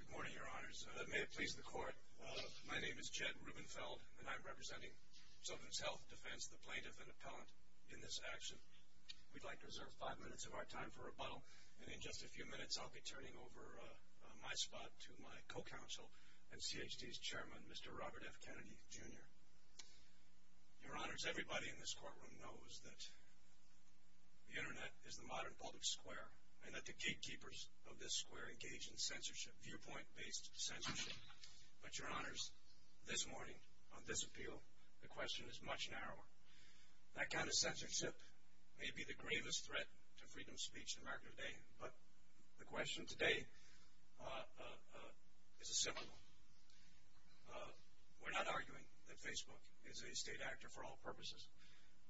Good morning, Your Honors. May it please the Court, my name is Jed Rubenfeld, and I'm representing Sullivan's Health Defense, the plaintiff and appellant in this action. We'd like to reserve five minutes of our time for rebuttal, and in just a few minutes I'll be turning over my spot to my co-counsel and CHD's chairman, Mr. Robert F. Kennedy, Jr. Your Honors, everybody in this courtroom knows that the Internet is the modern public square, and that the gatekeepers of this square engage in censorship, viewpoint-based censorship. But, Your Honors, this morning, on this appeal, the question is much narrower. That kind of censorship may be the gravest threat to freedom of speech in America today, but the question today is a simple one. We're not arguing that Facebook is a state actor for all purposes.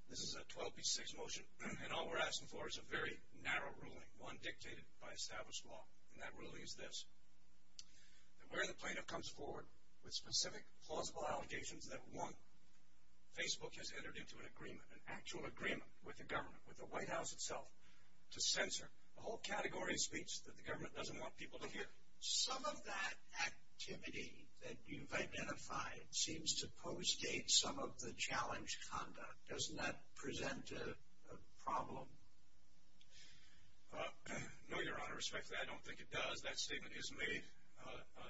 This is a 12p6 motion, and all we're asking for is a very narrow ruling, one dictated by established law, and that ruling is this, that where the plaintiff comes forward with specific, plausible allegations that, one, Facebook has entered into an agreement, an actual agreement with the government, with the White House itself, to censor a whole category of speech that the government doesn't want people to hear. Some of that activity that you've identified seems to postdate some of the challenge conduct. Doesn't that present a problem? No, Your Honor. Respectfully, I don't think it does. That statement is made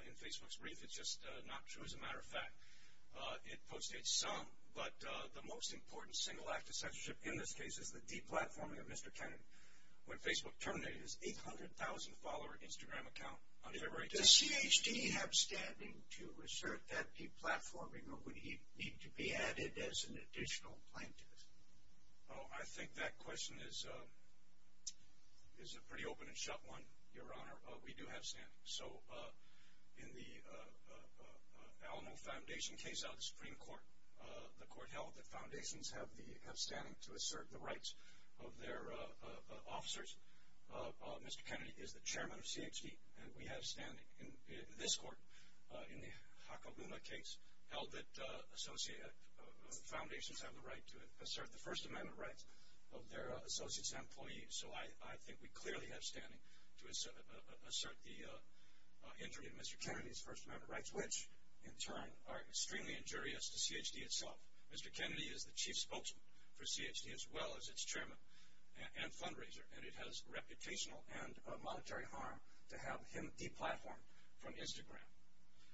in Facebook's brief. It's just not true, as a matter of fact. It postdates some, but the most important single act of censorship in this case is the deplatforming of Mr. Kennedy. When Facebook terminated its 800,000-follower Instagram account on February 2nd. Does CHT have standing to assert that deplatforming, or would it need to be added as an additional plaintiff? Oh, I think that question is a pretty open and shut one, Your Honor. We do have standing. So, in the Alamo Foundation case out of the Supreme Court, the court held that foundations have standing to assert the rights of their officers. Mr. Kennedy is the chairman of CHT, and we have standing. In this court, in the Hacaluna case, held that foundations have the right to assert the First Amendment rights of their associates and employees. So, I think we clearly have standing to assert the injury of Mr. Kennedy's First Amendment rights, which, in turn, are extremely injurious to CHT itself. Mr. Kennedy is the chief spokesman for CHT, as well as its chairman and fundraiser, and it has reputational and monetary harm to have him deplatformed from Instagram.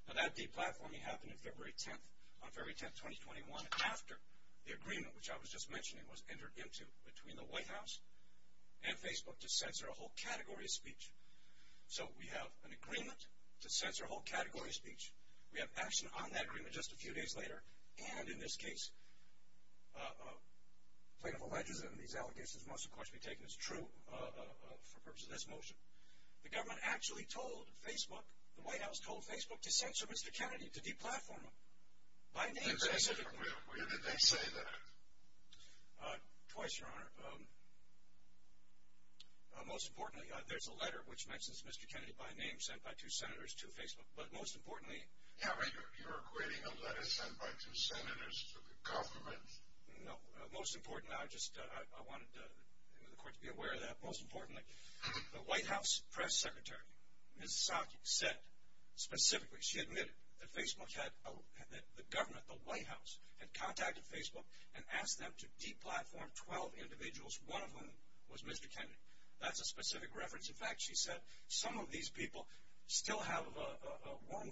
Now, that deplatforming happened on February 10th, 2021, after the agreement, which I was just mentioning, was entered into between the White House and Facebook to censor a whole category of speech. So, we have an agreement to censor a whole category of speech. We have action on that agreement just a few days later, and in this case, plaintiff alleges that these allegations must, of course, be taken as true for purposes of this motion. The government actually told Facebook, the White House told Facebook to censor Mr. Kennedy, to deplatform him. By name, specifically. When did they say that? Twice, Your Honor. Most importantly, there's a letter, which mentions Mr. Kennedy by name, sent by two senators to Facebook. But most importantly— Yeah, but you're equating a letter sent by two senators to the government. No. Most importantly, I just wanted the court to be aware of that. Most importantly, the White House press secretary, Ms. Psaki, said, specifically, she admitted that Facebook had—the government, the White House, had contacted Facebook and asked them to deplatform 12 individuals, one of whom was Mr. Kennedy. That's a specific reference. In fact, she said some of these people still have one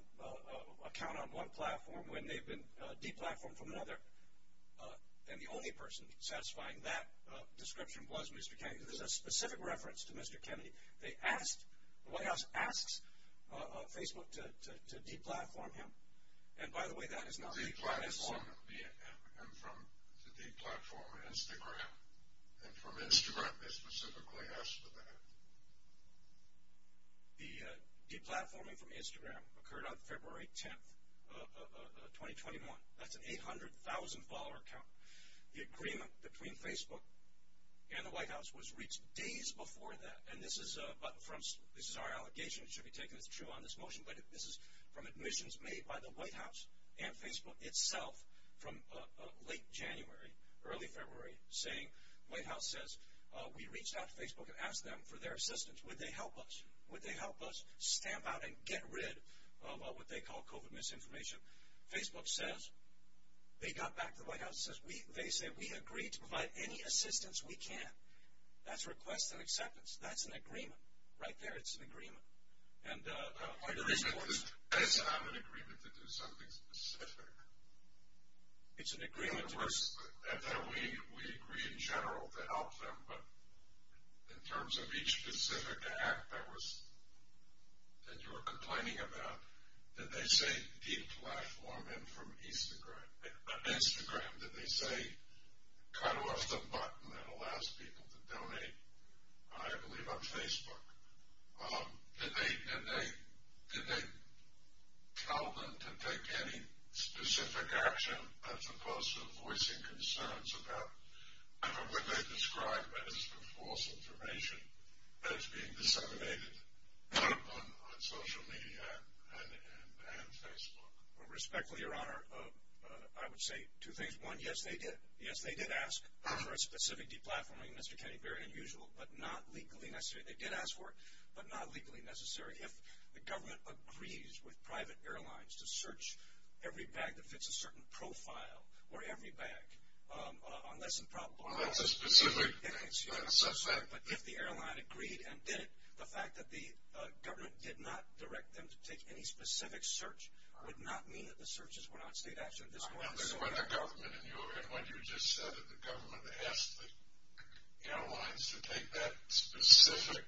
account on one platform when they've been deplatformed from another. And the only person satisfying that description was Mr. Kennedy. This is a specific reference to Mr. Kennedy. They asked—the White House asks Facebook to deplatform him. And, by the way, that is not— Deplatform him from the deplatforming Instagram. And from Instagram, they specifically asked for that. The deplatforming from Instagram occurred on February 10th of 2021. That's an 800,000-follower count. The agreement between Facebook and the White House was reached days before that. And this is—this is our allegation. It should be taken as true on this motion. But this is from admissions made by the White House and Facebook itself from late January, early February, saying, the White House says, we reached out to Facebook and asked them for their assistance. Would they help us? Would they help us stamp out and get rid of what they call COVID misinformation? Facebook says they got back to the White House. They say, we agree to provide any assistance we can. That's requests and acceptance. That's an agreement. Right there, it's an agreement. It's not an agreement to do something specific. It's an agreement to— In other words, we agree in general to help them. But in terms of each specific act that was—that you were complaining about, did they say deplatform him from Instagram? Did they say cut off the button that allows people to donate, I believe, on Facebook? Did they tell them to take any specific action as opposed to voicing concerns about what they described as the false information that is being disseminated on social media and Facebook? Well, respectfully, Your Honor, I would say two things. One, yes, they did. Yes, they did ask for a specific deplatforming, Mr. Kennedy. Very unusual, but not legally necessary. They did ask for it, but not legally necessary. If the government agrees with private airlines to search every bag that fits a certain profile or every bag on less than probable causes— Well, that's a specific thing. I'm sorry, but if the airline agreed and did it, the fact that the government did not direct them to take any specific search would not mean that the searches were not state action at this point. And when you just said that the government asked the airlines to take that specific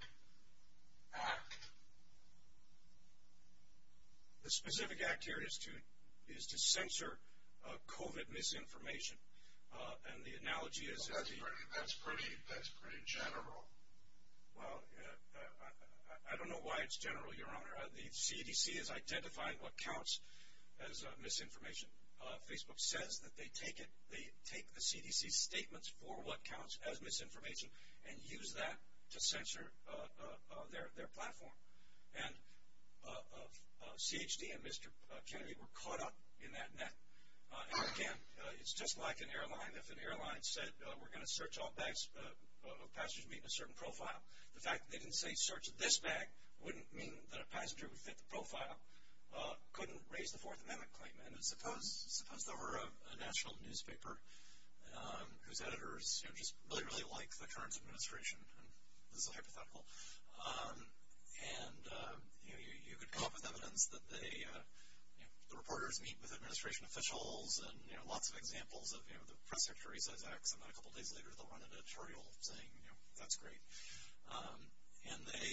act— The specific act here is to censor COVID misinformation, and the analogy is— Well, that's pretty general. Well, I don't know why it's general, Your Honor. The CDC is identifying what counts as misinformation. Facebook says that they take the CDC's statements for what counts as misinformation and use that to censor their platform. And CHD and Mr. Kennedy were caught up in that net. And again, it's just like an airline. If an airline said, we're going to search all bags of passengers meeting a certain profile, the fact that they didn't say, search this bag, wouldn't mean that a passenger would fit the profile, couldn't raise the Fourth Amendment claim. And suppose there were a national newspaper whose editors just really, really like the current administration. This is a hypothetical. And you could come up with evidence that the reporters meet with administration officials and lots of examples of the press secretary says X, and then a couple days later they'll run an editorial saying, you know, that's great. And they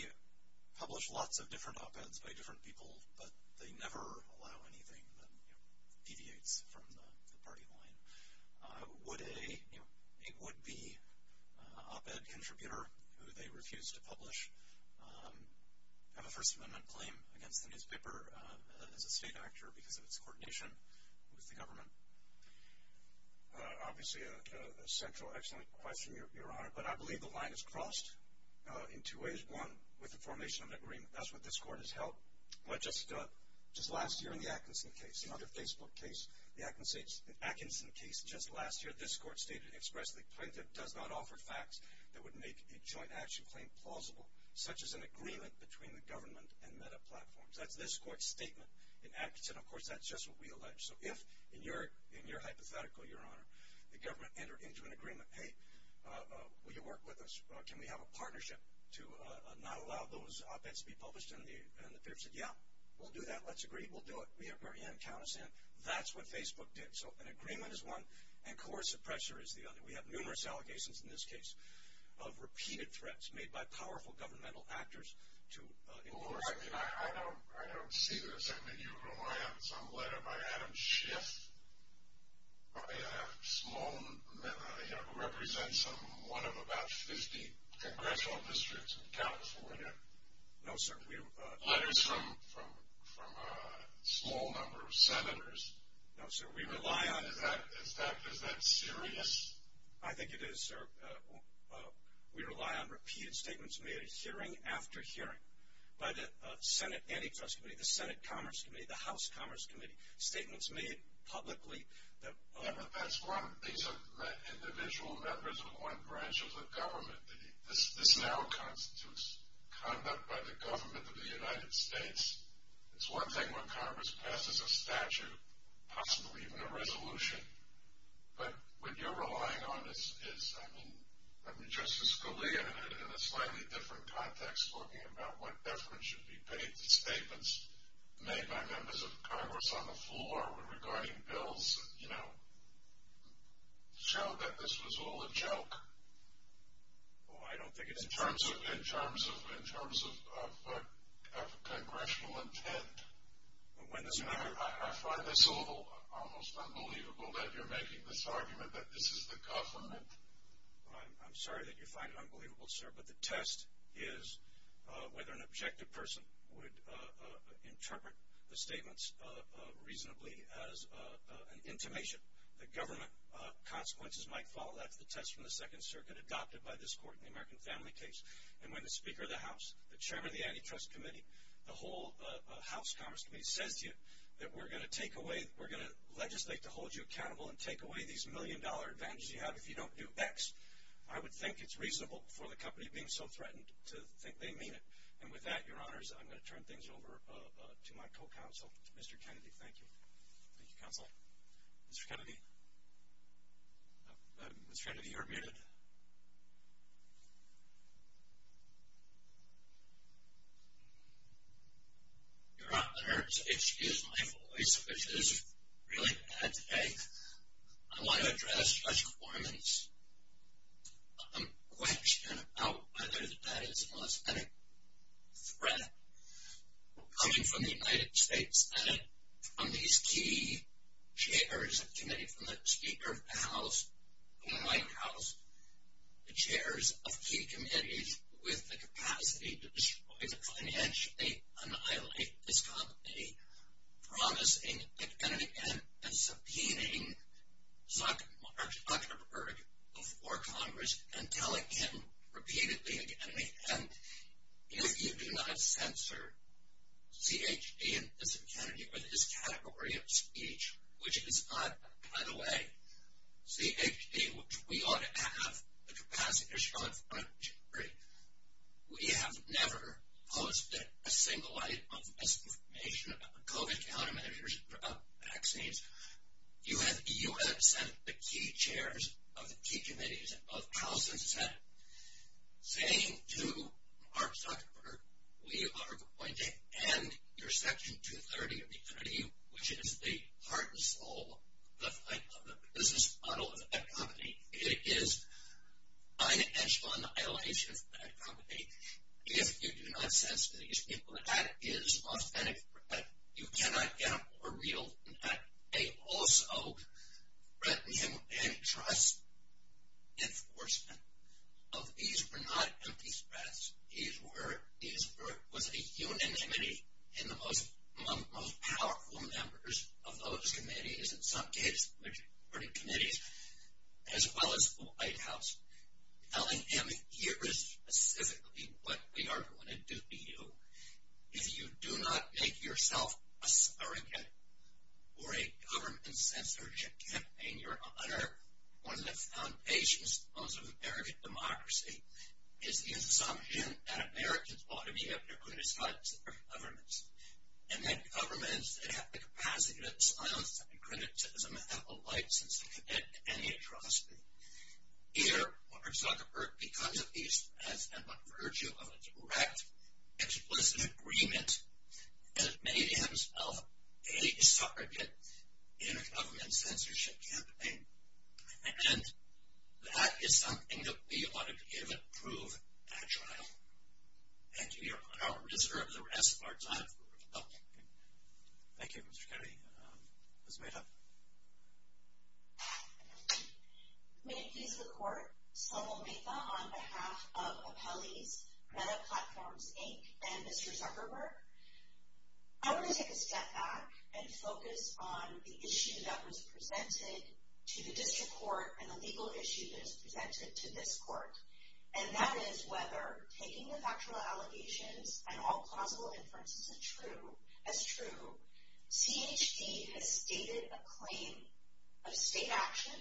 publish lots of different op-eds by different people, but they never allow anything that deviates from the party line. Would a, you know, a would-be op-ed contributor who they refuse to publish have a First Amendment claim against the newspaper as a state actor because of its coordination with the government? Obviously a central, excellent question, Your Honor. But I believe the line is crossed in two ways. One, with the formation of an agreement. That's what this court has held. Just last year in the Atkinson case, another Facebook case, the Atkinson case just last year, this court stated expressly, plaintiff does not offer facts that would make a joint action claim plausible, such as an agreement between the government and meta platforms. That's this court's statement in Atkinson. Of course, that's just what we allege. So if, in your hypothetical, Your Honor, the government entered into an agreement, hey, will you work with us? Can we have a partnership to not allow those op-eds to be published? And the peers said, yeah, we'll do that. Let's agree. We'll do it. We're in. Count us in. That's what Facebook did. So an agreement is one, and coercive pressure is the other. We have numerous allegations in this case of repeated threats made by powerful governmental actors. Well, I mean, I don't see this. I mean, you rely on some letter by Adam Schiff, a small, you know, who represents one of about 50 congressional districts in California. No, sir. Letters from a small number of senators. No, sir. We rely on Is that serious? I think it is, sir. We rely on repeated statements made at hearing after hearing by the Senate Antitrust Committee, the Senate Commerce Committee, the House Commerce Committee. Statements made publicly. That's one. These are individual members of one branch of the government. This now constitutes conduct by the government of the United States. It's one thing when Congress passes a statute, possibly even a resolution. But what you're relying on is, I mean, Justice Scalia, in a slightly different context, talking about what deference should be paid to statements made by members of Congress on the floor regarding bills, you know, showed that this was all a joke. Oh, I don't think it's a joke. In terms of congressional intent. I find this almost unbelievable that you're making this argument that this is the government. I'm sorry that you find it unbelievable, sir, but the test is whether an objective person would interpret the statements reasonably as an intimation. The government consequences might follow. That's the test from the Second Circuit adopted by this court in the American family case. And when the Speaker of the House, the Chairman of the Antitrust Committee, the whole House Commerce Committee says to you that we're going to legislate to hold you accountable and take away these million-dollar advantages you have if you don't do X, I would think it's reasonable for the company being so threatened to think they mean it. And with that, Your Honors, I'm going to turn things over to my co-counsel, Mr. Kennedy. Thank you. Thank you, Counselor. Mr. Kennedy? Mr. Kennedy, you are muted. Your Honors, excuse my voice, which is really bad today. I want to address Judge Corman's question about whether that is a positive threat coming from the United States and from these key chairs of committees, from the Speaker of the House to the White House, the chairs of key committees with the capacity to destroy, to financially annihilate this company, promising, again and again, and subpoenaing Zuckerberg before Congress and telling him repeatedly, again and again, if you do not censor CHD and Mr. Kennedy for this category of speech, which is not, by the way, CHD, which we ought to have the capacity to destroy, we have never posted a single item of misinformation about the COVID countermeasures of vaccines. You have sent the key chairs of the key committees of House and Senate saying to Mark Zuckerberg, we are going to end your Section 230 of the Kennedy, which is the heart and soul of the business model of that company. It is financial annihilation of that company. If you do not censor these people, that is authentic threat. You cannot get a more real threat. They also threaten him with antitrust enforcement. These were not empty threats. These were a unanimity in the most powerful members of those committees, in some cases, majority committees, as well as the White House, telling him, here is specifically what we are going to do to you. If you do not make yourself a surrogate for a government censorship campaign, you are under one of the foundations of American democracy. It is the assumption that Americans ought to be able to criticize their governments and that governments that have the capacity to silence and criticize them have the right to commit any atrocity. Here, Mark Zuckerberg becomes a beast, has been by virtue of a direct, explicit agreement, and has made himself a surrogate in a government censorship campaign. And that is something that we ought to give and prove at trial. Thank you, Your Honor. I reserve the rest of our time for rebuttal. Thank you, Mr. Kennedy. Ms. Mehta. May it please the Court. Selma Mehta on behalf of Appellees, Meta Platforms, Inc., and Mr. Zuckerberg. I want to take a step back and focus on the issue that was presented to the district court and the legal issue that is presented to this court, and that is whether taking the factual allegations and all plausible inferences as true, CHD has stated a claim of state action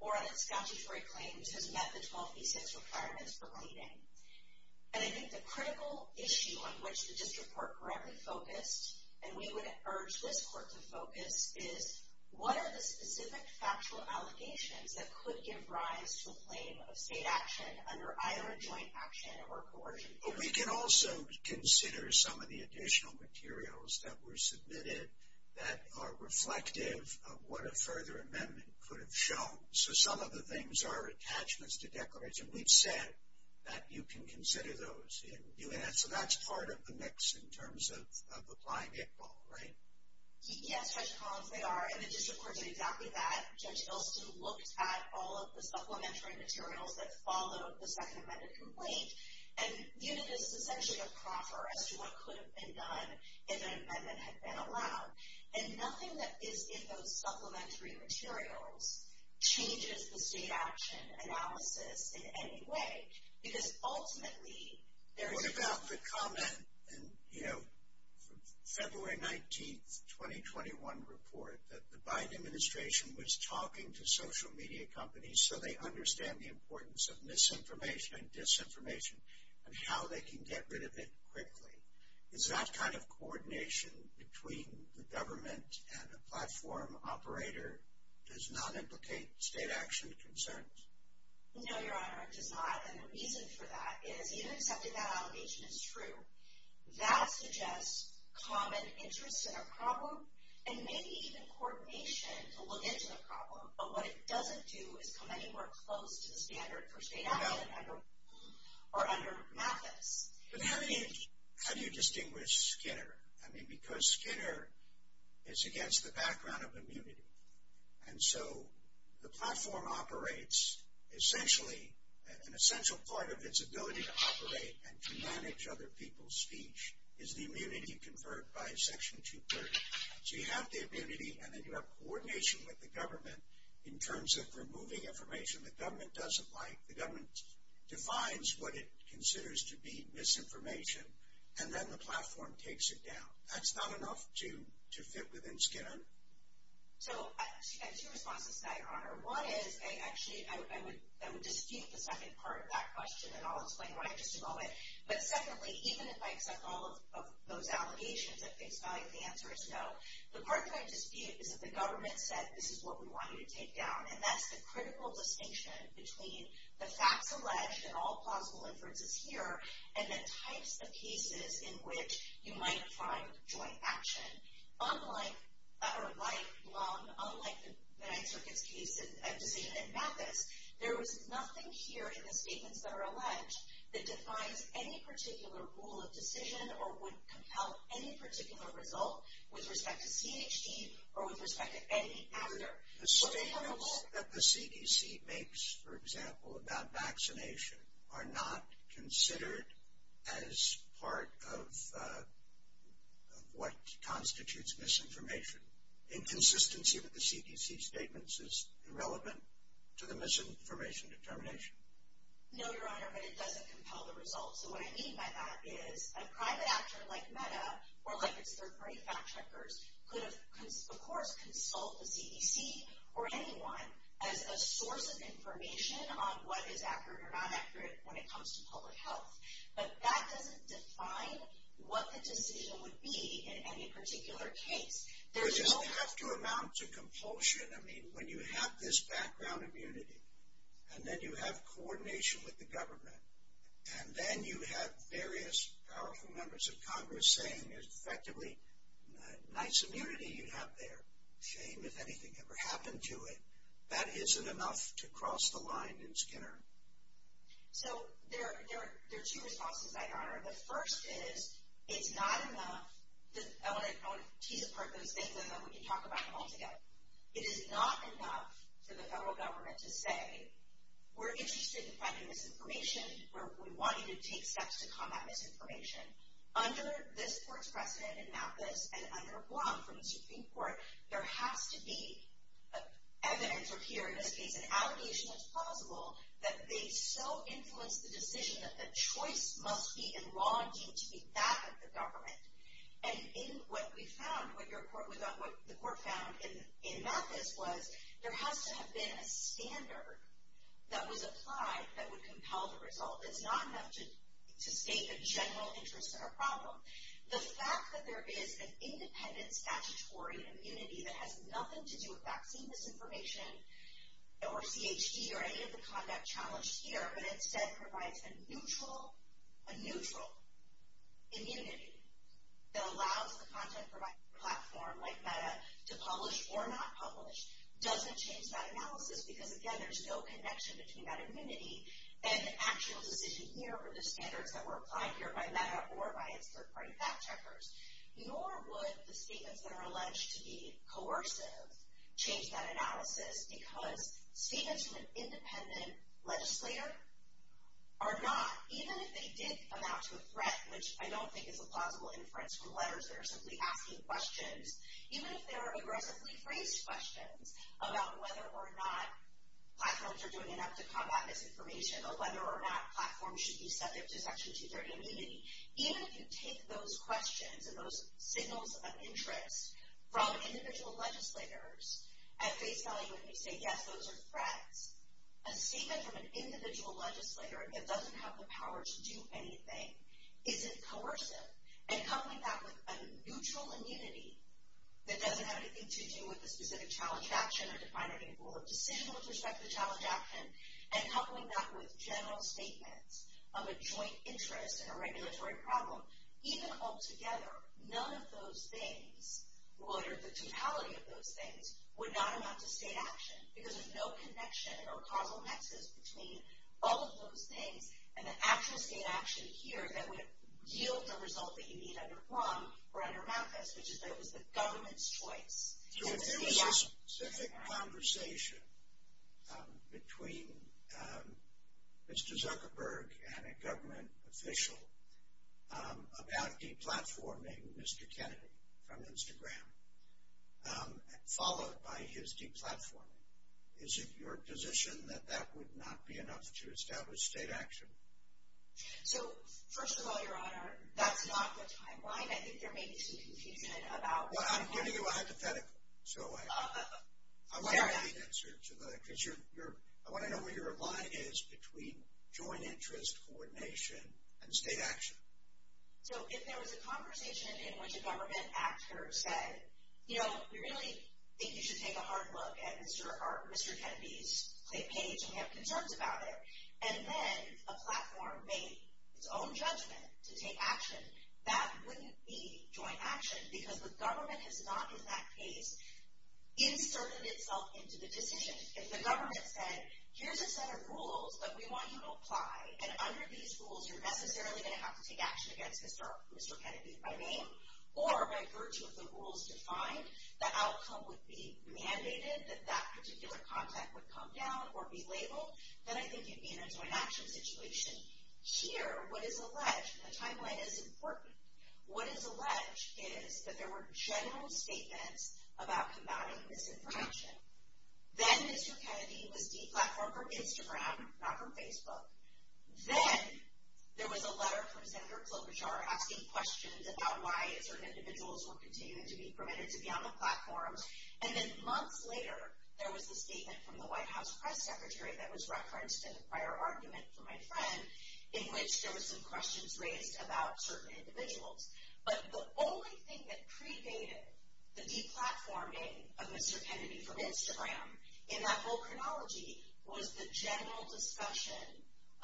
or a statutory claim which has met the 12B6 requirements for pleading. And I think the critical issue on which the district court granted focus, and we would urge this court to focus, is what are the specific factual allegations that could give rise to a claim of state action under either a joint action or coercion theory? We can also consider some of the additional materials that were submitted that are reflective of what a further amendment could have shown. So some of the things are attachments to declarations. We've said that you can consider those. So that's part of the mix in terms of applying it all, right? Yes, Judge Collins, they are. And the district court did exactly that. Judge Ilston looked at all of the supplementary materials that followed the second amendment complaint. And viewed it as essentially a proffer as to what could have been done if an amendment had been allowed. And nothing that is in those supplementary materials changes the state action analysis in any way because ultimately there is not. What about the comment in, you know, February 19th, 2021 report that the Biden administration was talking to social media companies so they understand the importance of misinformation and disinformation and how they can get rid of it quickly? Is that kind of coordination between the government and a platform operator does not implicate state action concerns? No, Your Honor, it does not. And the reason for that is even accepting that allegation is true. That suggests common interests in a problem and maybe even coordination to look into the problem. But what it doesn't do is come anywhere close to the standard for state action or under MAFIS. But how do you distinguish Skinner? I mean, because Skinner is against the background of immunity. And so the platform operates essentially, an essential part of its ability to operate and to manage other people's speech is the immunity conferred by Section 230. So you have the immunity and then you have coordination with the government in terms of removing information the government doesn't like. The government defines what it considers to be misinformation and then the platform takes it down. That's not enough to fit within Skinner. So I have two responses to that, Your Honor. One is, actually, I would dispute the second part of that question and I'll explain why in just a moment. But secondly, even if I accept all of those allegations at face value, the answer is no. The part that I dispute is that the government said, this is what we want you to take down. And that's the critical distinction between the facts alleged and all plausible inferences here and the types of cases in which you might find joint action. Unlike the Ninth Circuit's decision in MAFIS, there was nothing here in the statements that are alleged that defines any particular rule of decision or would compel any particular result with respect to CHD or with respect to any after. The statements that the CDC makes, for example, about vaccination are not considered as part of what constitutes misinformation. Inconsistency with the CDC statements is irrelevant to the misinformation determination? No, Your Honor, but it doesn't compel the results. And what I mean by that is a private actor like MEDA or like its third-party fact-checkers could have, of course, consult the CDC or anyone as a source of information on what is accurate or not accurate when it comes to public health. But that doesn't define what the decision would be in any particular case. Does it have to amount to compulsion? I mean, when you have this background immunity and then you have coordination with the government and then you have various powerful members of Congress saying, effectively, nice immunity you have there. Shame if anything ever happened to it. That isn't enough to cross the line in Skinner. So there are two responses, Your Honor. The first is, it's not enough to tease apart those things and then we can talk about them all together. It is not enough for the federal government to say, we're interested in finding misinformation. We want you to take steps to combat misinformation. Under this court's precedent in Mathis and under Blum from the Supreme Court, there has to be evidence or here, in this case, an allegation that's plausible that they so influenced the decision that the choice must be in law and duty to be that of the government. And in what we found, what the court found in Mathis was there has to have been a standard that was applied that would compel the result. It's not enough to state the general interest in our problem. The fact that there is an independent statutory immunity that has nothing to do with vaccine misinformation or CHD or any of the conduct challenged here that allows the content platform like Meta to publish or not publish doesn't change that analysis because, again, there's no connection between that immunity and the actual decision here or the standards that were applied here by Meta or by its third-party fact-checkers. Nor would the statements that are alleged to be coercive change that analysis because statements from an independent legislator are not, even if they did amount to a threat, which I don't think is a plausible inference from letters. They're simply asking questions. Even if they're aggressively phrased questions about whether or not platforms are doing enough to combat misinformation or whether or not platforms should be subject to Section 230 immunity, even if you take those questions and those signals of interest from individual legislators at face value and you say, yes, those are threats, a statement from an individual legislator that doesn't have the power to do anything isn't coercive. And coupling that with a neutral immunity that doesn't have anything to do with a specific challenge action or defining a rule of decision with respect to challenge action and coupling that with general statements of a joint interest in a regulatory problem, even altogether, none of those things, or the totality of those things, would not amount to state action because there's no connection or causal nexus between all of those things and the actual state action here that would yield the result that you need under Plum or under Mathis, which is that it was the government's choice. If there was a specific conversation between Mr. Zuckerberg and a government official about deplatforming Mr. Kennedy from Instagram followed by his deplatforming, is it your position that that would not be enough to establish state action? So, first of all, Your Honor, that's not the timeline. I think there may be some confusion about... Well, I'm giving you a hypothetical, so I want to know the answer to that because I want to know where your line is between joint interest, coordination, and state action. So if there was a conversation in which a government actor said, you know, we really think you should take a hard look at Mr. Kennedy's page and have concerns about it, and then a platform made its own judgment to take action, that wouldn't be joint action because the government has not, in that case, inserted itself into the decision. If the government said, here's a set of rules that we want you to apply, and under these rules you're necessarily going to have to take action against Mr. Kennedy by name or by virtue of the rules defined, the outcome would be mandated that that particular content would come down or be labeled, then I think you'd be in a joint action situation. Here, what is alleged, and the timeline is important, what is alleged is that there were general statements about combating misinformation. Then Mr. Kennedy was de-platformed for Instagram, not for Facebook. Then there was a letter from Senator Klobuchar asking questions about why certain individuals were continuing to be permitted to be on the platforms, and then months later there was a statement from the White House Press Secretary that was referenced in a prior argument for my friend in which there were some questions raised about certain individuals. But the only thing that predated the de-platforming of Mr. Kennedy from Instagram in that whole chronology was the general discussion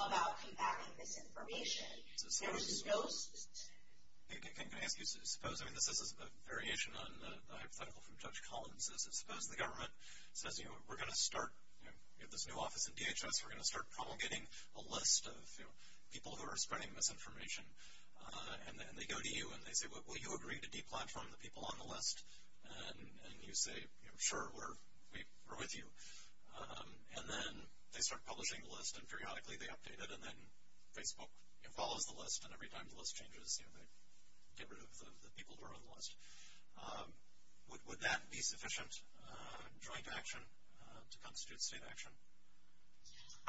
about combating misinformation. There was no... Can I ask you, suppose, I mean, this is a variation on the hypothetical from Judge Collins, suppose the government says, you know, we're going to start, you know, this new office in DHS, we're going to start promulgating a list of, you know, people who are spreading misinformation, and they go to you and they say, will you agree to de-platform the people on the list? And you say, you know, sure, we're with you. And then they start publishing the list and periodically they update it, and then Facebook follows the list, they get rid of the people who are on the list. Would that be sufficient joint action to constitute state action?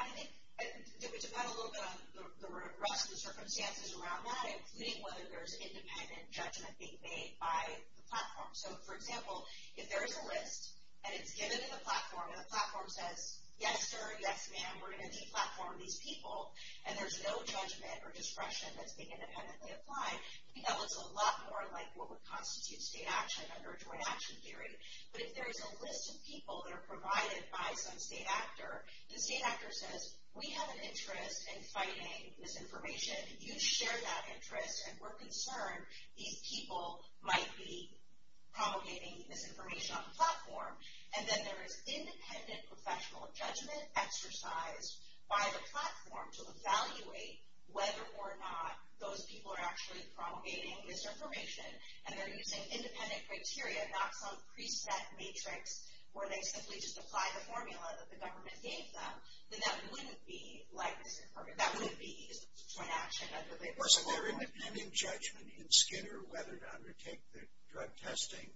I think it would depend a little bit on the rest of the circumstances around that, including whether there's independent judgment being made by the platform. So, for example, if there is a list and it's given to the platform, and the platform says, yes, sir, yes, ma'am, we're going to de-platform these people, and there's no judgment or discretion that's being independently applied, I think that looks a lot more like what would constitute state action under a joint action theory. But if there's a list of people that are provided by some state actor, the state actor says, we have an interest in fighting misinformation, you share that interest, and we're concerned these people might be promulgating misinformation on the platform, and then there is independent professional judgment exercised by the platform to evaluate whether or not those people are actually promulgating misinformation, and they're using independent criteria, not some preset matrix where they simply just apply the formula that the government gave them, then that wouldn't be like this. That would be a joint action. Wasn't there independent judgment in Skinner whether to undertake the drug testing?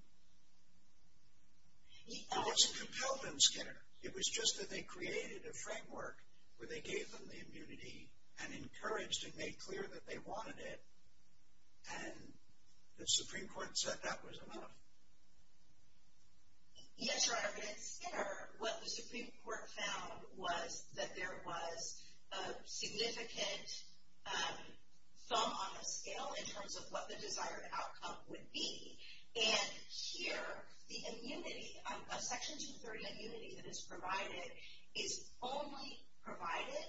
It wasn't compelled in Skinner. It was just that they created a framework where they gave them the immunity and encouraged and made clear that they wanted it, and the Supreme Court said that was enough. Yes, Your Honor, in Skinner, what the Supreme Court found was that there was a significant thumb on the scale in terms of what the desired outcome would be, and here, the immunity, a Section 230 immunity that is provided is only provided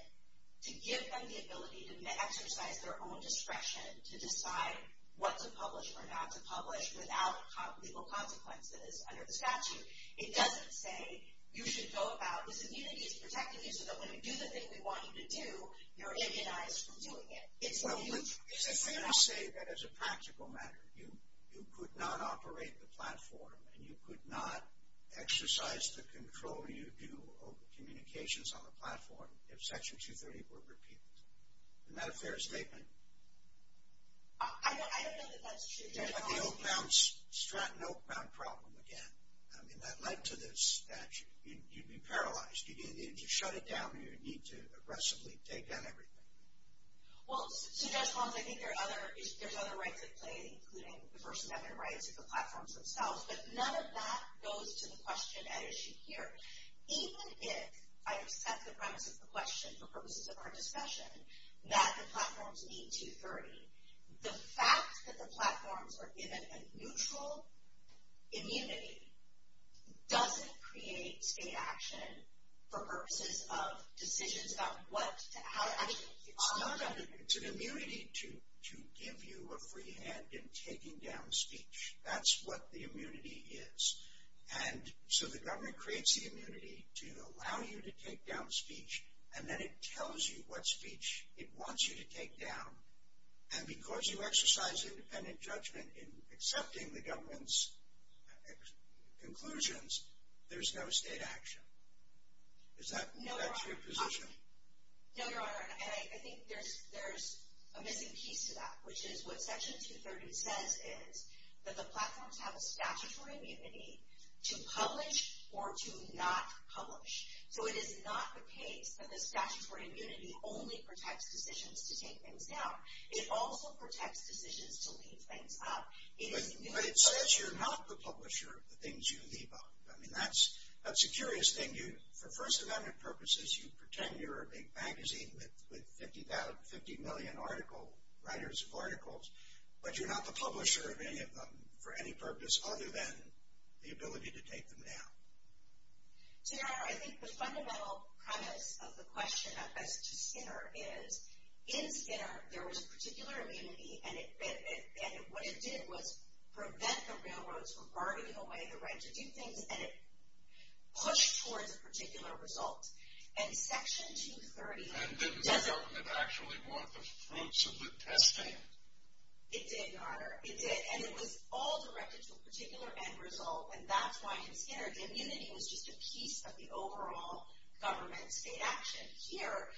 to give them the ability to exercise their own discretion to decide what to publish or not to publish without legal consequences under the statute. It doesn't say you should go about, this immunity is protecting you so that when we do the thing we want you to do, you're immunized from doing it. It's a thing of... Well, let me say that as a practical matter. You could not operate the platform, and you could not exercise the control you do over communications on the platform if Section 230 were repealed. Isn't that a fair statement? I don't know that that's true, Judge Holmes. You had the Stratton-Oakbound problem again. I mean, that led to this statute. You'd be paralyzed. You'd shut it down, and you'd need to aggressively take on everything. Well, Judge Holmes, I think there's other rights at play, including the person having rights at the platforms themselves, but none of that goes to the question at issue here. Even if I accept the premise of the question for purposes of our discussion, that the platforms need 230, the fact that the platforms are given a neutral immunity doesn't create state action for purposes of decisions about how to actually... It's an immunity to give you a free hand in taking down speech. That's what the immunity is. And so the government creates the immunity to allow you to take down speech, and then it tells you what speech it wants you to take down. And because you exercise independent judgment in accepting the government's conclusions, there's no state action. Is that your position? No, Your Honor, and I think there's a missing piece to that, which is what Section 230 says is that the platforms have a statutory immunity to publish or to not publish. So it is not the case that the statutory immunity only protects decisions to take things down. It also protects decisions to leave things up. But it says you're not the publisher of the things you leave up. I mean, that's a curious thing. For First Amendment purposes, you pretend you're a big magazine with 50 million writers of articles, but you're not the publisher of any of them for any purpose other than the ability to take them down. So, Your Honor, I think the fundamental premise of the question as to Skinner is in Skinner there was a particular immunity, and what it did was prevent the railroads from barging away the right to do things, and it pushed towards a particular result. And Section 230... And didn't the government actually want the fruits of the testing? It did, Your Honor, it did. And it was all directed to a particular end result, and that's why in Skinner the immunity was just a piece of the overall government state action. Here,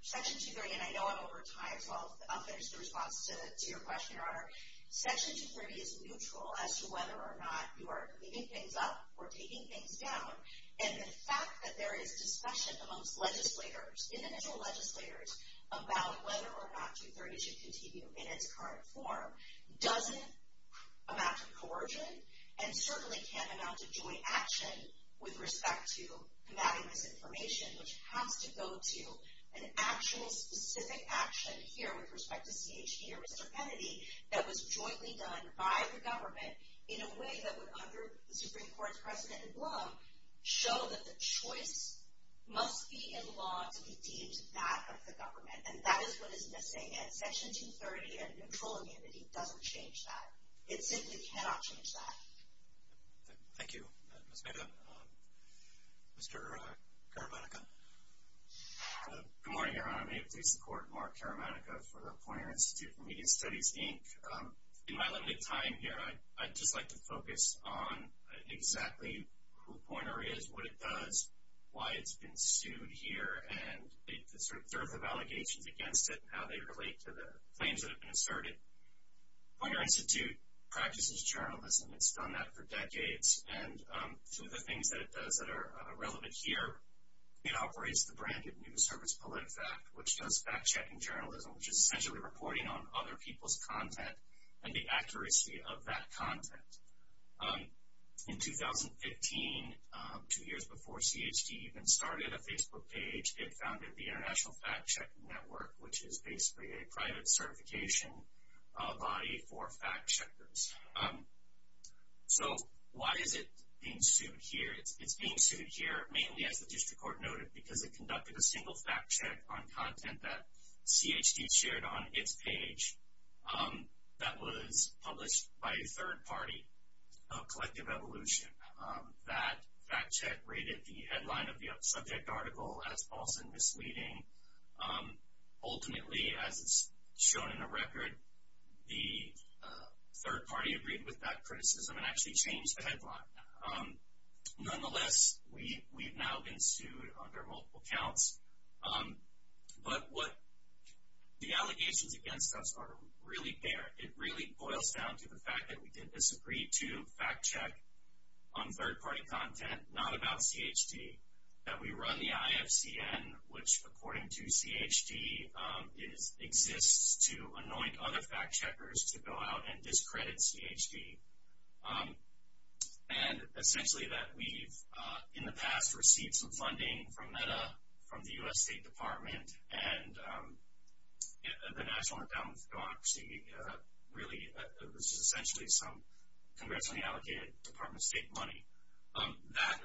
Section 230, and I know I'm over time, so I'll finish the response to your question, Your Honor. Section 230 is neutral as to whether or not you are leaving things up or taking things down. And the fact that there is discussion amongst legislators individual legislators about whether or not 230 should continue in its current form doesn't amount to coercion, and certainly can't amount to joint action with respect to combating misinformation, which has to go to an actual specific action here with respect to CHP or Mr. Kennedy that was jointly done by the government in a way that would, under the Supreme Court's precedent in Blum, show that the choice must be in law to be deemed that of the government. And that is what is missing, and Section 230 and neutral immunity doesn't change that. It simply cannot change that. Thank you, Ms. Mehta. Mr. Karamanicka. Good morning, Your Honor. May it please the Court, Mark Karamanicka for the Poynter Institute for Media Studies, Inc. In my limited time here, I'd just like to focus on exactly who Poynter is, what it does, why it's been sued here, and the sort of allegations against it and how they relate to the claims that have been asserted. Poynter Institute practices journalism. It's done that for decades. And some of the things that it does that are relevant here, it operates the branded News Service PolitiFact, which does fact-checking journalism, which is essentially reporting on other people's content and the accuracy of that content. In 2015, two years before CHD even started a Facebook page, it founded the International Fact-Check Network, which is basically a private certification body for fact-checkers. So why is it being sued here? It's being sued here mainly, as the district court noted, because it conducted a single fact-check on content that CHD shared on its page that was published by a third party of Collective Evolution that fact-check rated the headline of the subject article as false and misleading. Ultimately, as it's shown in the record, the third party agreed with that criticism and actually changed the headline. Nonetheless, we've now been sued under multiple counts. But the allegations against us are really bare. It really boils down to the fact that we did disagree to fact-check on third-party content, not about CHD, that we run the IFCN, which, according to CHD, exists to anoint other fact-checkers to go out and discredit CHD, and essentially that we've, in the past, received some funding from NEDA, from the U.S. State Department, and the National Endowment for Democracy, which is essentially some congressionally allocated Department of State money.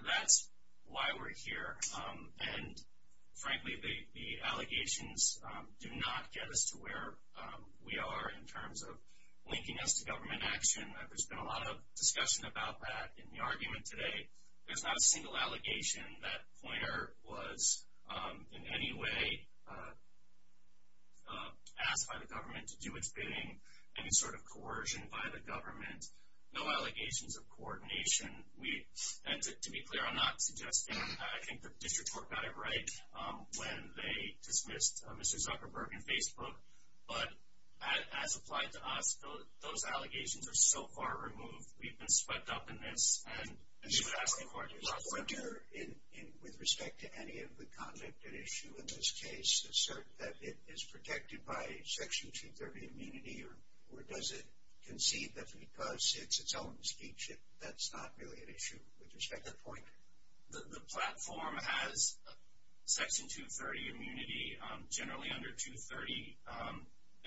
That's why we're here. And, frankly, the allegations do not get us to where we are in terms of linking us to government action. There's been a lot of discussion about that in the argument today. There's not a single allegation that Poynter was in any way asked by the government to do its bidding, any sort of coercion by the government, no allegations of coordination. And to be clear, I'm not suggesting. I think the district court got it right when they dismissed Mr. Zuckerberg in Facebook. But as applied to us, those allegations are so far removed. We've been swept up in this. Does Poynter, with respect to any of the conduct at issue in this case, assert that it is protected by Section 230 immunity, or does it concede that because it's its own speech, that's not really an issue with respect to Poynter? The platform has Section 230 immunity, generally under 230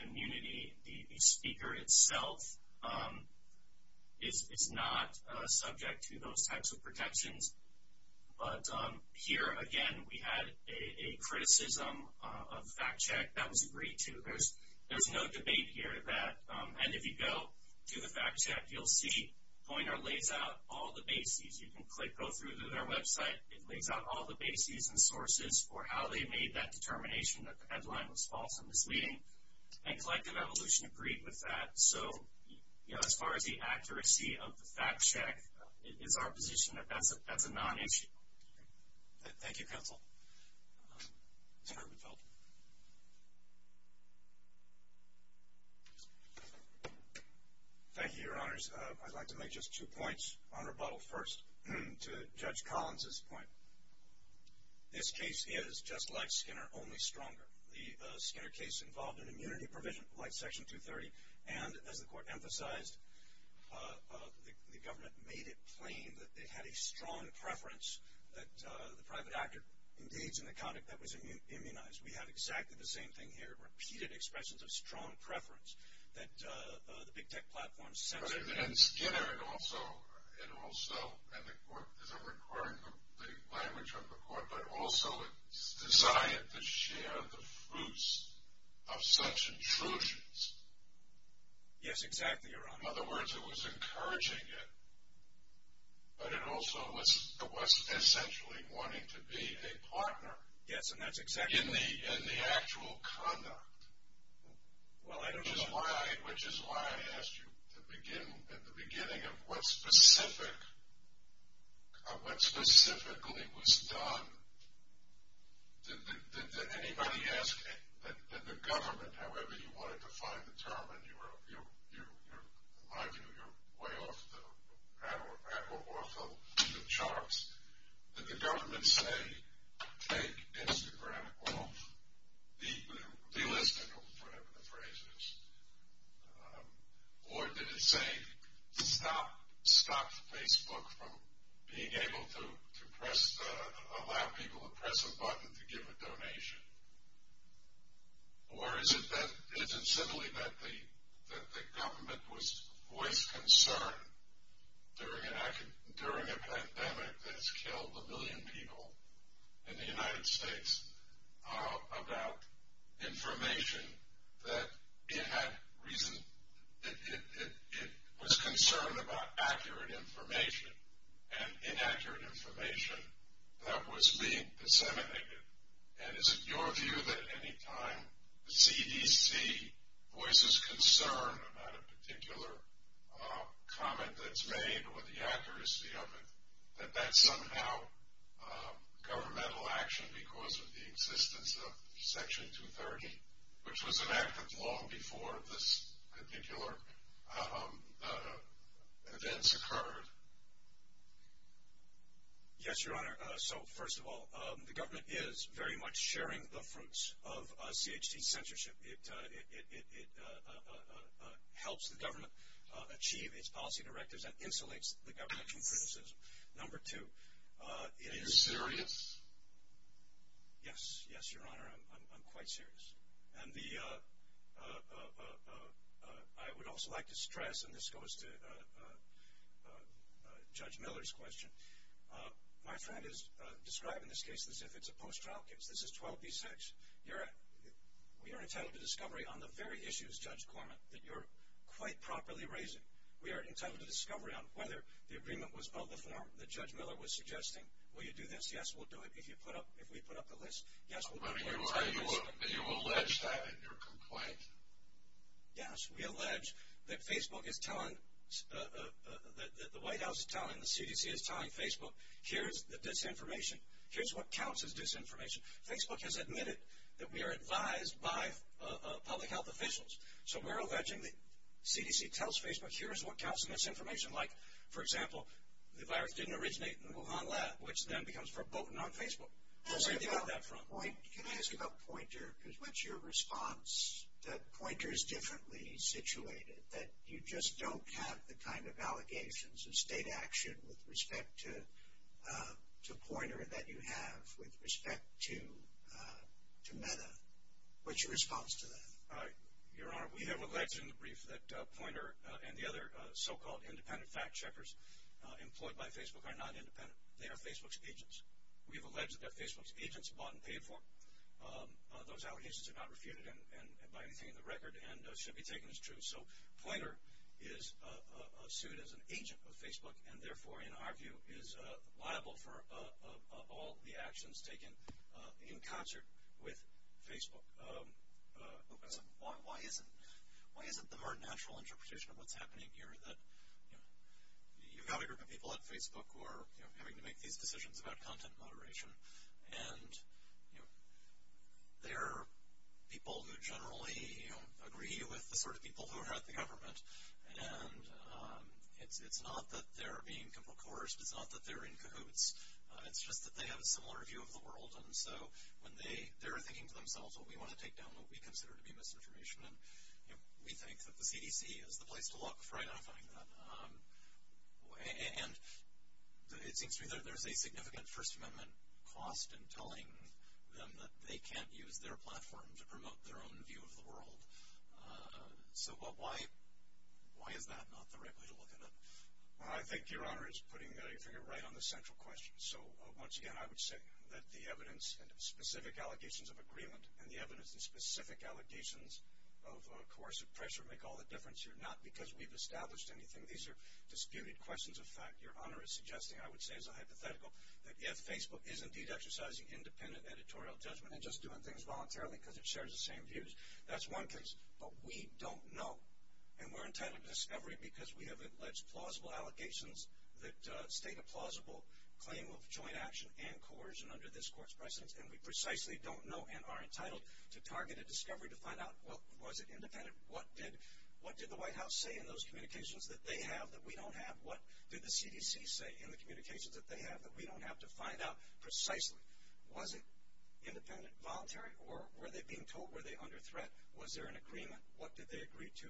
immunity. The speaker itself is not subject to those types of protections. But here, again, we had a criticism of fact check that was agreed to. There's no debate here that, and if you go to the fact check, you'll see Poynter lays out all the bases. You can click, go through to their website. It lays out all the bases and sources for how they made that determination that the headline was false and misleading. And Collective Evolution agreed with that. So, you know, as far as the accuracy of the fact check, it's our position that that's a non-issue. Thank you, Counsel. Mr. Rubenfeld. Thank you, Your Honors. I'd like to make just two points on rebuttal first to Judge Collins' point. This case is, just like Skinner, only stronger. The Skinner case involved an immunity provision like Section 230, and as the Court emphasized, the government made it plain that they had a strong preference that the private actor engage in the conduct that was immunized. We have exactly the same thing here, repeated expressions of strong preference that the Big Tech platform censored. And Skinner also, and also, and the Court isn't requiring the language of the Court, but also its desire to share the fruits of such intrusions. Yes, exactly, Your Honor. In other words, it was encouraging it, but it also was essentially wanting to be a partner. Yes, and that's exactly right. In the actual conduct. Well, I don't know. Which is why I asked you at the beginning of what specifically was done, did anybody ask that the government, however you wanted to find the term, and in my view, you're way off the charts, did the government say take Instagram off, delist it, whatever the phrase is, or did it say stop Facebook from being able to allow people to press a button to give a donation, or is it simply that the government was voiced concern during a pandemic that's killed a million people in the United States about information that it had reason, it was concerned about accurate information and inaccurate information that was being disseminated. And is it your view that any time the CDC voices concern about a particular comment that's made or the accuracy of it, that that's somehow governmental action because of the existence of Section 230, which was enacted long before this particular events occurred? Yes, Your Honor. So, first of all, the government is very much sharing the fruits of CHC censorship. It helps the government achieve its policy directives and insulates the government from criticism. Number two, it is serious. Yes, yes, Your Honor, I'm quite serious. And I would also like to stress, and this goes to Judge Miller's question, my friend is describing this case as if it's a post-trial case. This is 12B6. We are entitled to discovery on the very issues, Judge Corman, that you're quite properly raising. We are entitled to discovery on whether the agreement was of the form that Judge Miller was suggesting. Will you do this? Yes, we'll do it. If we put up the list, yes, we'll do it. But you allege that in your complaint. Yes, we allege that Facebook is telling, that the White House is telling, the CDC is telling Facebook, here's the disinformation, here's what counts as disinformation. Facebook has admitted that we are advised by public health officials. So we're alleging that CDC tells Facebook, here's what counts as disinformation. Like, for example, the virus didn't originate in the Wuhan lab, which then becomes verboten on Facebook. We'll say it on that front. Can I ask about Poynter? Because what's your response that Poynter is differently situated, that you just don't have the kind of allegations of state action with respect to Poynter that you have with respect to Meta? What's your response to that? Your Honor, we have alleged in the brief that Poynter and the other so-called independent fact-checkers employed by Facebook are not independent. They are Facebook's agents. We have alleged that they're Facebook's agents, bought and paid for. Those allegations are not refuted by anything in the record and should be taken as true. So Poynter is sued as an agent of Facebook and, therefore, in our view, is liable for all the actions taken in concert with Facebook. Why isn't the more natural interpretation of what's happening here that, you know, you've got a group of people at Facebook who are having to make these decisions about content moderation, and, you know, they're people who generally, you know, agree with the sort of people who are at the government, and it's not that they're being comprecoursed. It's not that they're in cahoots. It's just that they have a similar view of the world, and so when they're thinking to themselves, well, we want to take down what we consider to be misinformation, and, you know, we think that the CDC is the place to look for identifying that. And it seems to me that there's a significant First Amendment cost in telling them that they can't use their platform to promote their own view of the world. So why is that not the right way to look at it? Well, I think, Your Honor, it's putting your finger right on the central question. So, once again, I would say that the evidence and specific allegations of agreement and the evidence and specific allegations of coercive pressure make all the difference here, not because we've established anything. These are disputed questions of fact. Your Honor is suggesting, I would say as a hypothetical, that if Facebook is indeed exercising independent editorial judgment and just doing things voluntarily because it shares the same views, that's one case. But we don't know, and we're entitled to discovery because we have alleged plausible allegations that state a plausible claim of joint action and coercion under this court's precedence, and we precisely don't know and are entitled to target a discovery to find out, well, was it independent? What did the White House say in those communications that they have that we don't have? What did the CDC say in the communications that they have that we don't have to find out precisely? Was it independent, voluntary, or were they being told? Were they under threat? Was there an agreement? What did they agree to?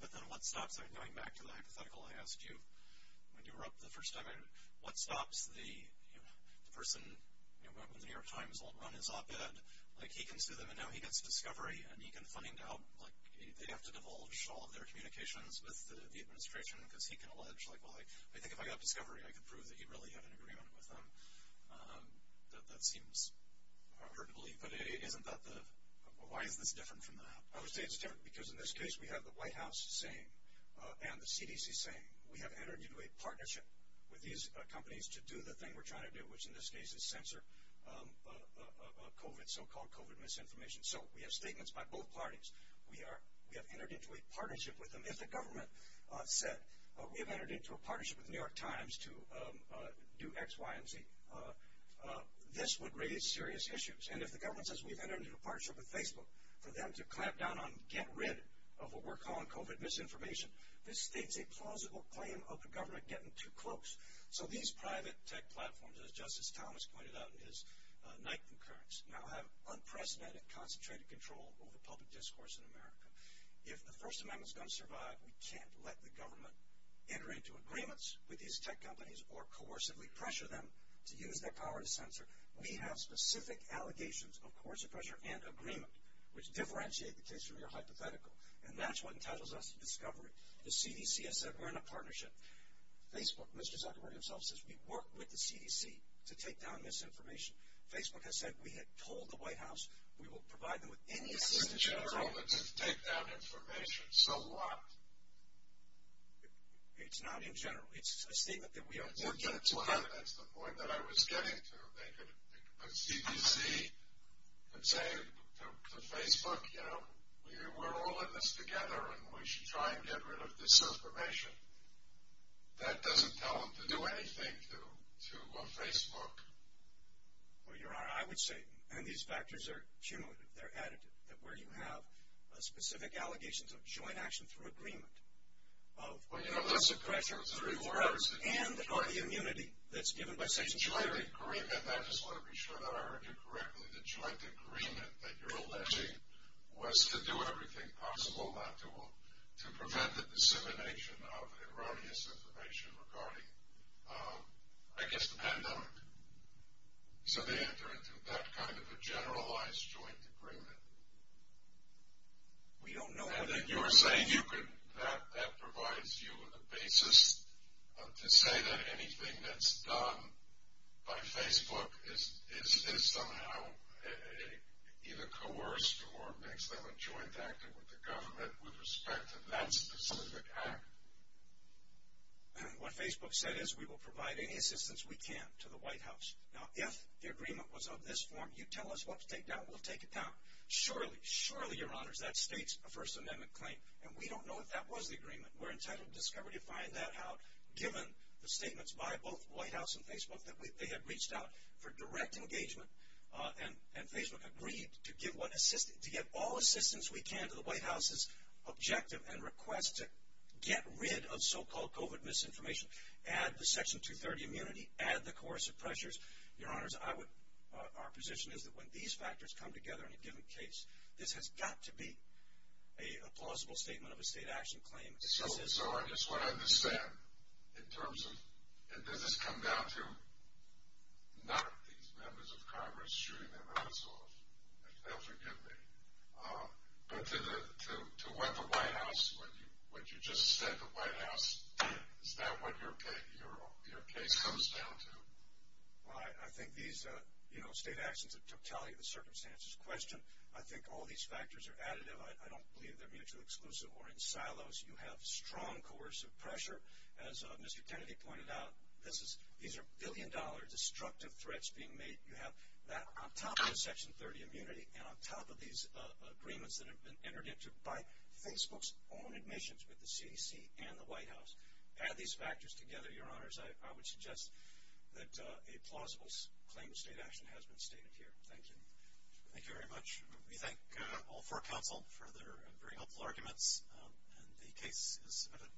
But then what stops them? Going back to the hypothetical I asked you when you were up the first time, what stops the person when the New York Times won't run his op-ed, like he can sue them and now he gets discovery and he can find out, like they have to divulge all of their communications with the administration because he can allege, like, well, I think if I got discovery I could prove that he really had an agreement with them. That seems hard to believe, but isn't that the, why is this different from that? I would say it's different because in this case we have the White House saying and the CDC saying we have entered into a partnership with these companies to do the thing we're trying to do, which in this case is censor COVID, so-called COVID misinformation. So we have statements by both parties. We have entered into a partnership with them. If the government said we have entered into a partnership with the New York Times to do X, Y, and Z, this would raise serious issues. And if the government says we've entered into a partnership with Facebook for them to clamp down on, get rid of what we're calling COVID misinformation, this states a plausible claim of the government getting too close. So these private tech platforms, as Justice Thomas pointed out in his night concurrence, now have unprecedented concentrated control over public discourse in America. If the First Amendment is going to survive, we can't let the government enter into agreements with these tech companies or coercively pressure them to use their power to censor. We have specific allegations of coercive pressure and agreement, which differentiate the case from your hypothetical. And that's what entitles us to discovery. The CDC has said we're in a partnership. Facebook, Mr. Zuckerberg himself, says we work with the CDC to take down misinformation. Facebook has said we have told the White House we will provide them with any assistance. It's not in general to take down information. So what? It's not in general. It's a statement that we are working together. That's the point that I was getting to. They could put CDC and say to Facebook, you know, we're all in this together, and we should try and get rid of this information. That doesn't tell them to do anything to Facebook. Well, you're right. I would say, and these factors are cumulative, they're additive, that where you have specific allegations of joint action through agreement, of coercive pressure through words, and are the immunity that's given by statutory. Joint agreement. I just want to be sure that I heard you correctly. The joint agreement that you're alleging was to do everything possible not to prevent the dissemination of erroneous information regarding, I guess, the pandemic. So they enter into that kind of a generalized joint agreement. We don't know. And then you're saying that provides you a basis to say that anything that's done by Facebook is somehow either coerced or makes them a joint actor with the government with respect to that specific act. What Facebook said is we will provide any assistance we can to the White House. Now, if the agreement was of this form, you tell us what to take down. We'll take it down. Surely, surely, Your Honors, that states a First Amendment claim. And we don't know if that was the agreement. We're entitled to discovery to find that out, given the statements by both White House and Facebook that they had reached out for direct engagement. And Facebook agreed to give all assistance we can to the White House's objective and request to get rid of so-called COVID misinformation, add the Section 230 immunity, add the coercive pressures. Your Honors, our position is that when these factors come together in a given case, this has got to be a plausible statement of a state action claim. So I just want to understand in terms of, and this has come down to not these members of Congress shooting their mouths off, if they'll forgive me, but to what the White House, what you just said the White House did, is that what your case comes down to? Well, I think these, you know, state actions that totality of the circumstances question, I think all these factors are additive. I don't believe they're mutually exclusive or in silos. You have strong coercive pressure. As Mr. Kennedy pointed out, these are billion-dollar destructive threats being made. You have that on top of the Section 230 immunity and on top of these agreements that have been entered into by Facebook's own admissions with the CDC and the White House. Add these factors together, Your Honors, I would suggest that a plausible claim of state action has been stated here. Thank you. Thank you very much. We thank all four counsel for their very helpful arguments, and the case is submitted.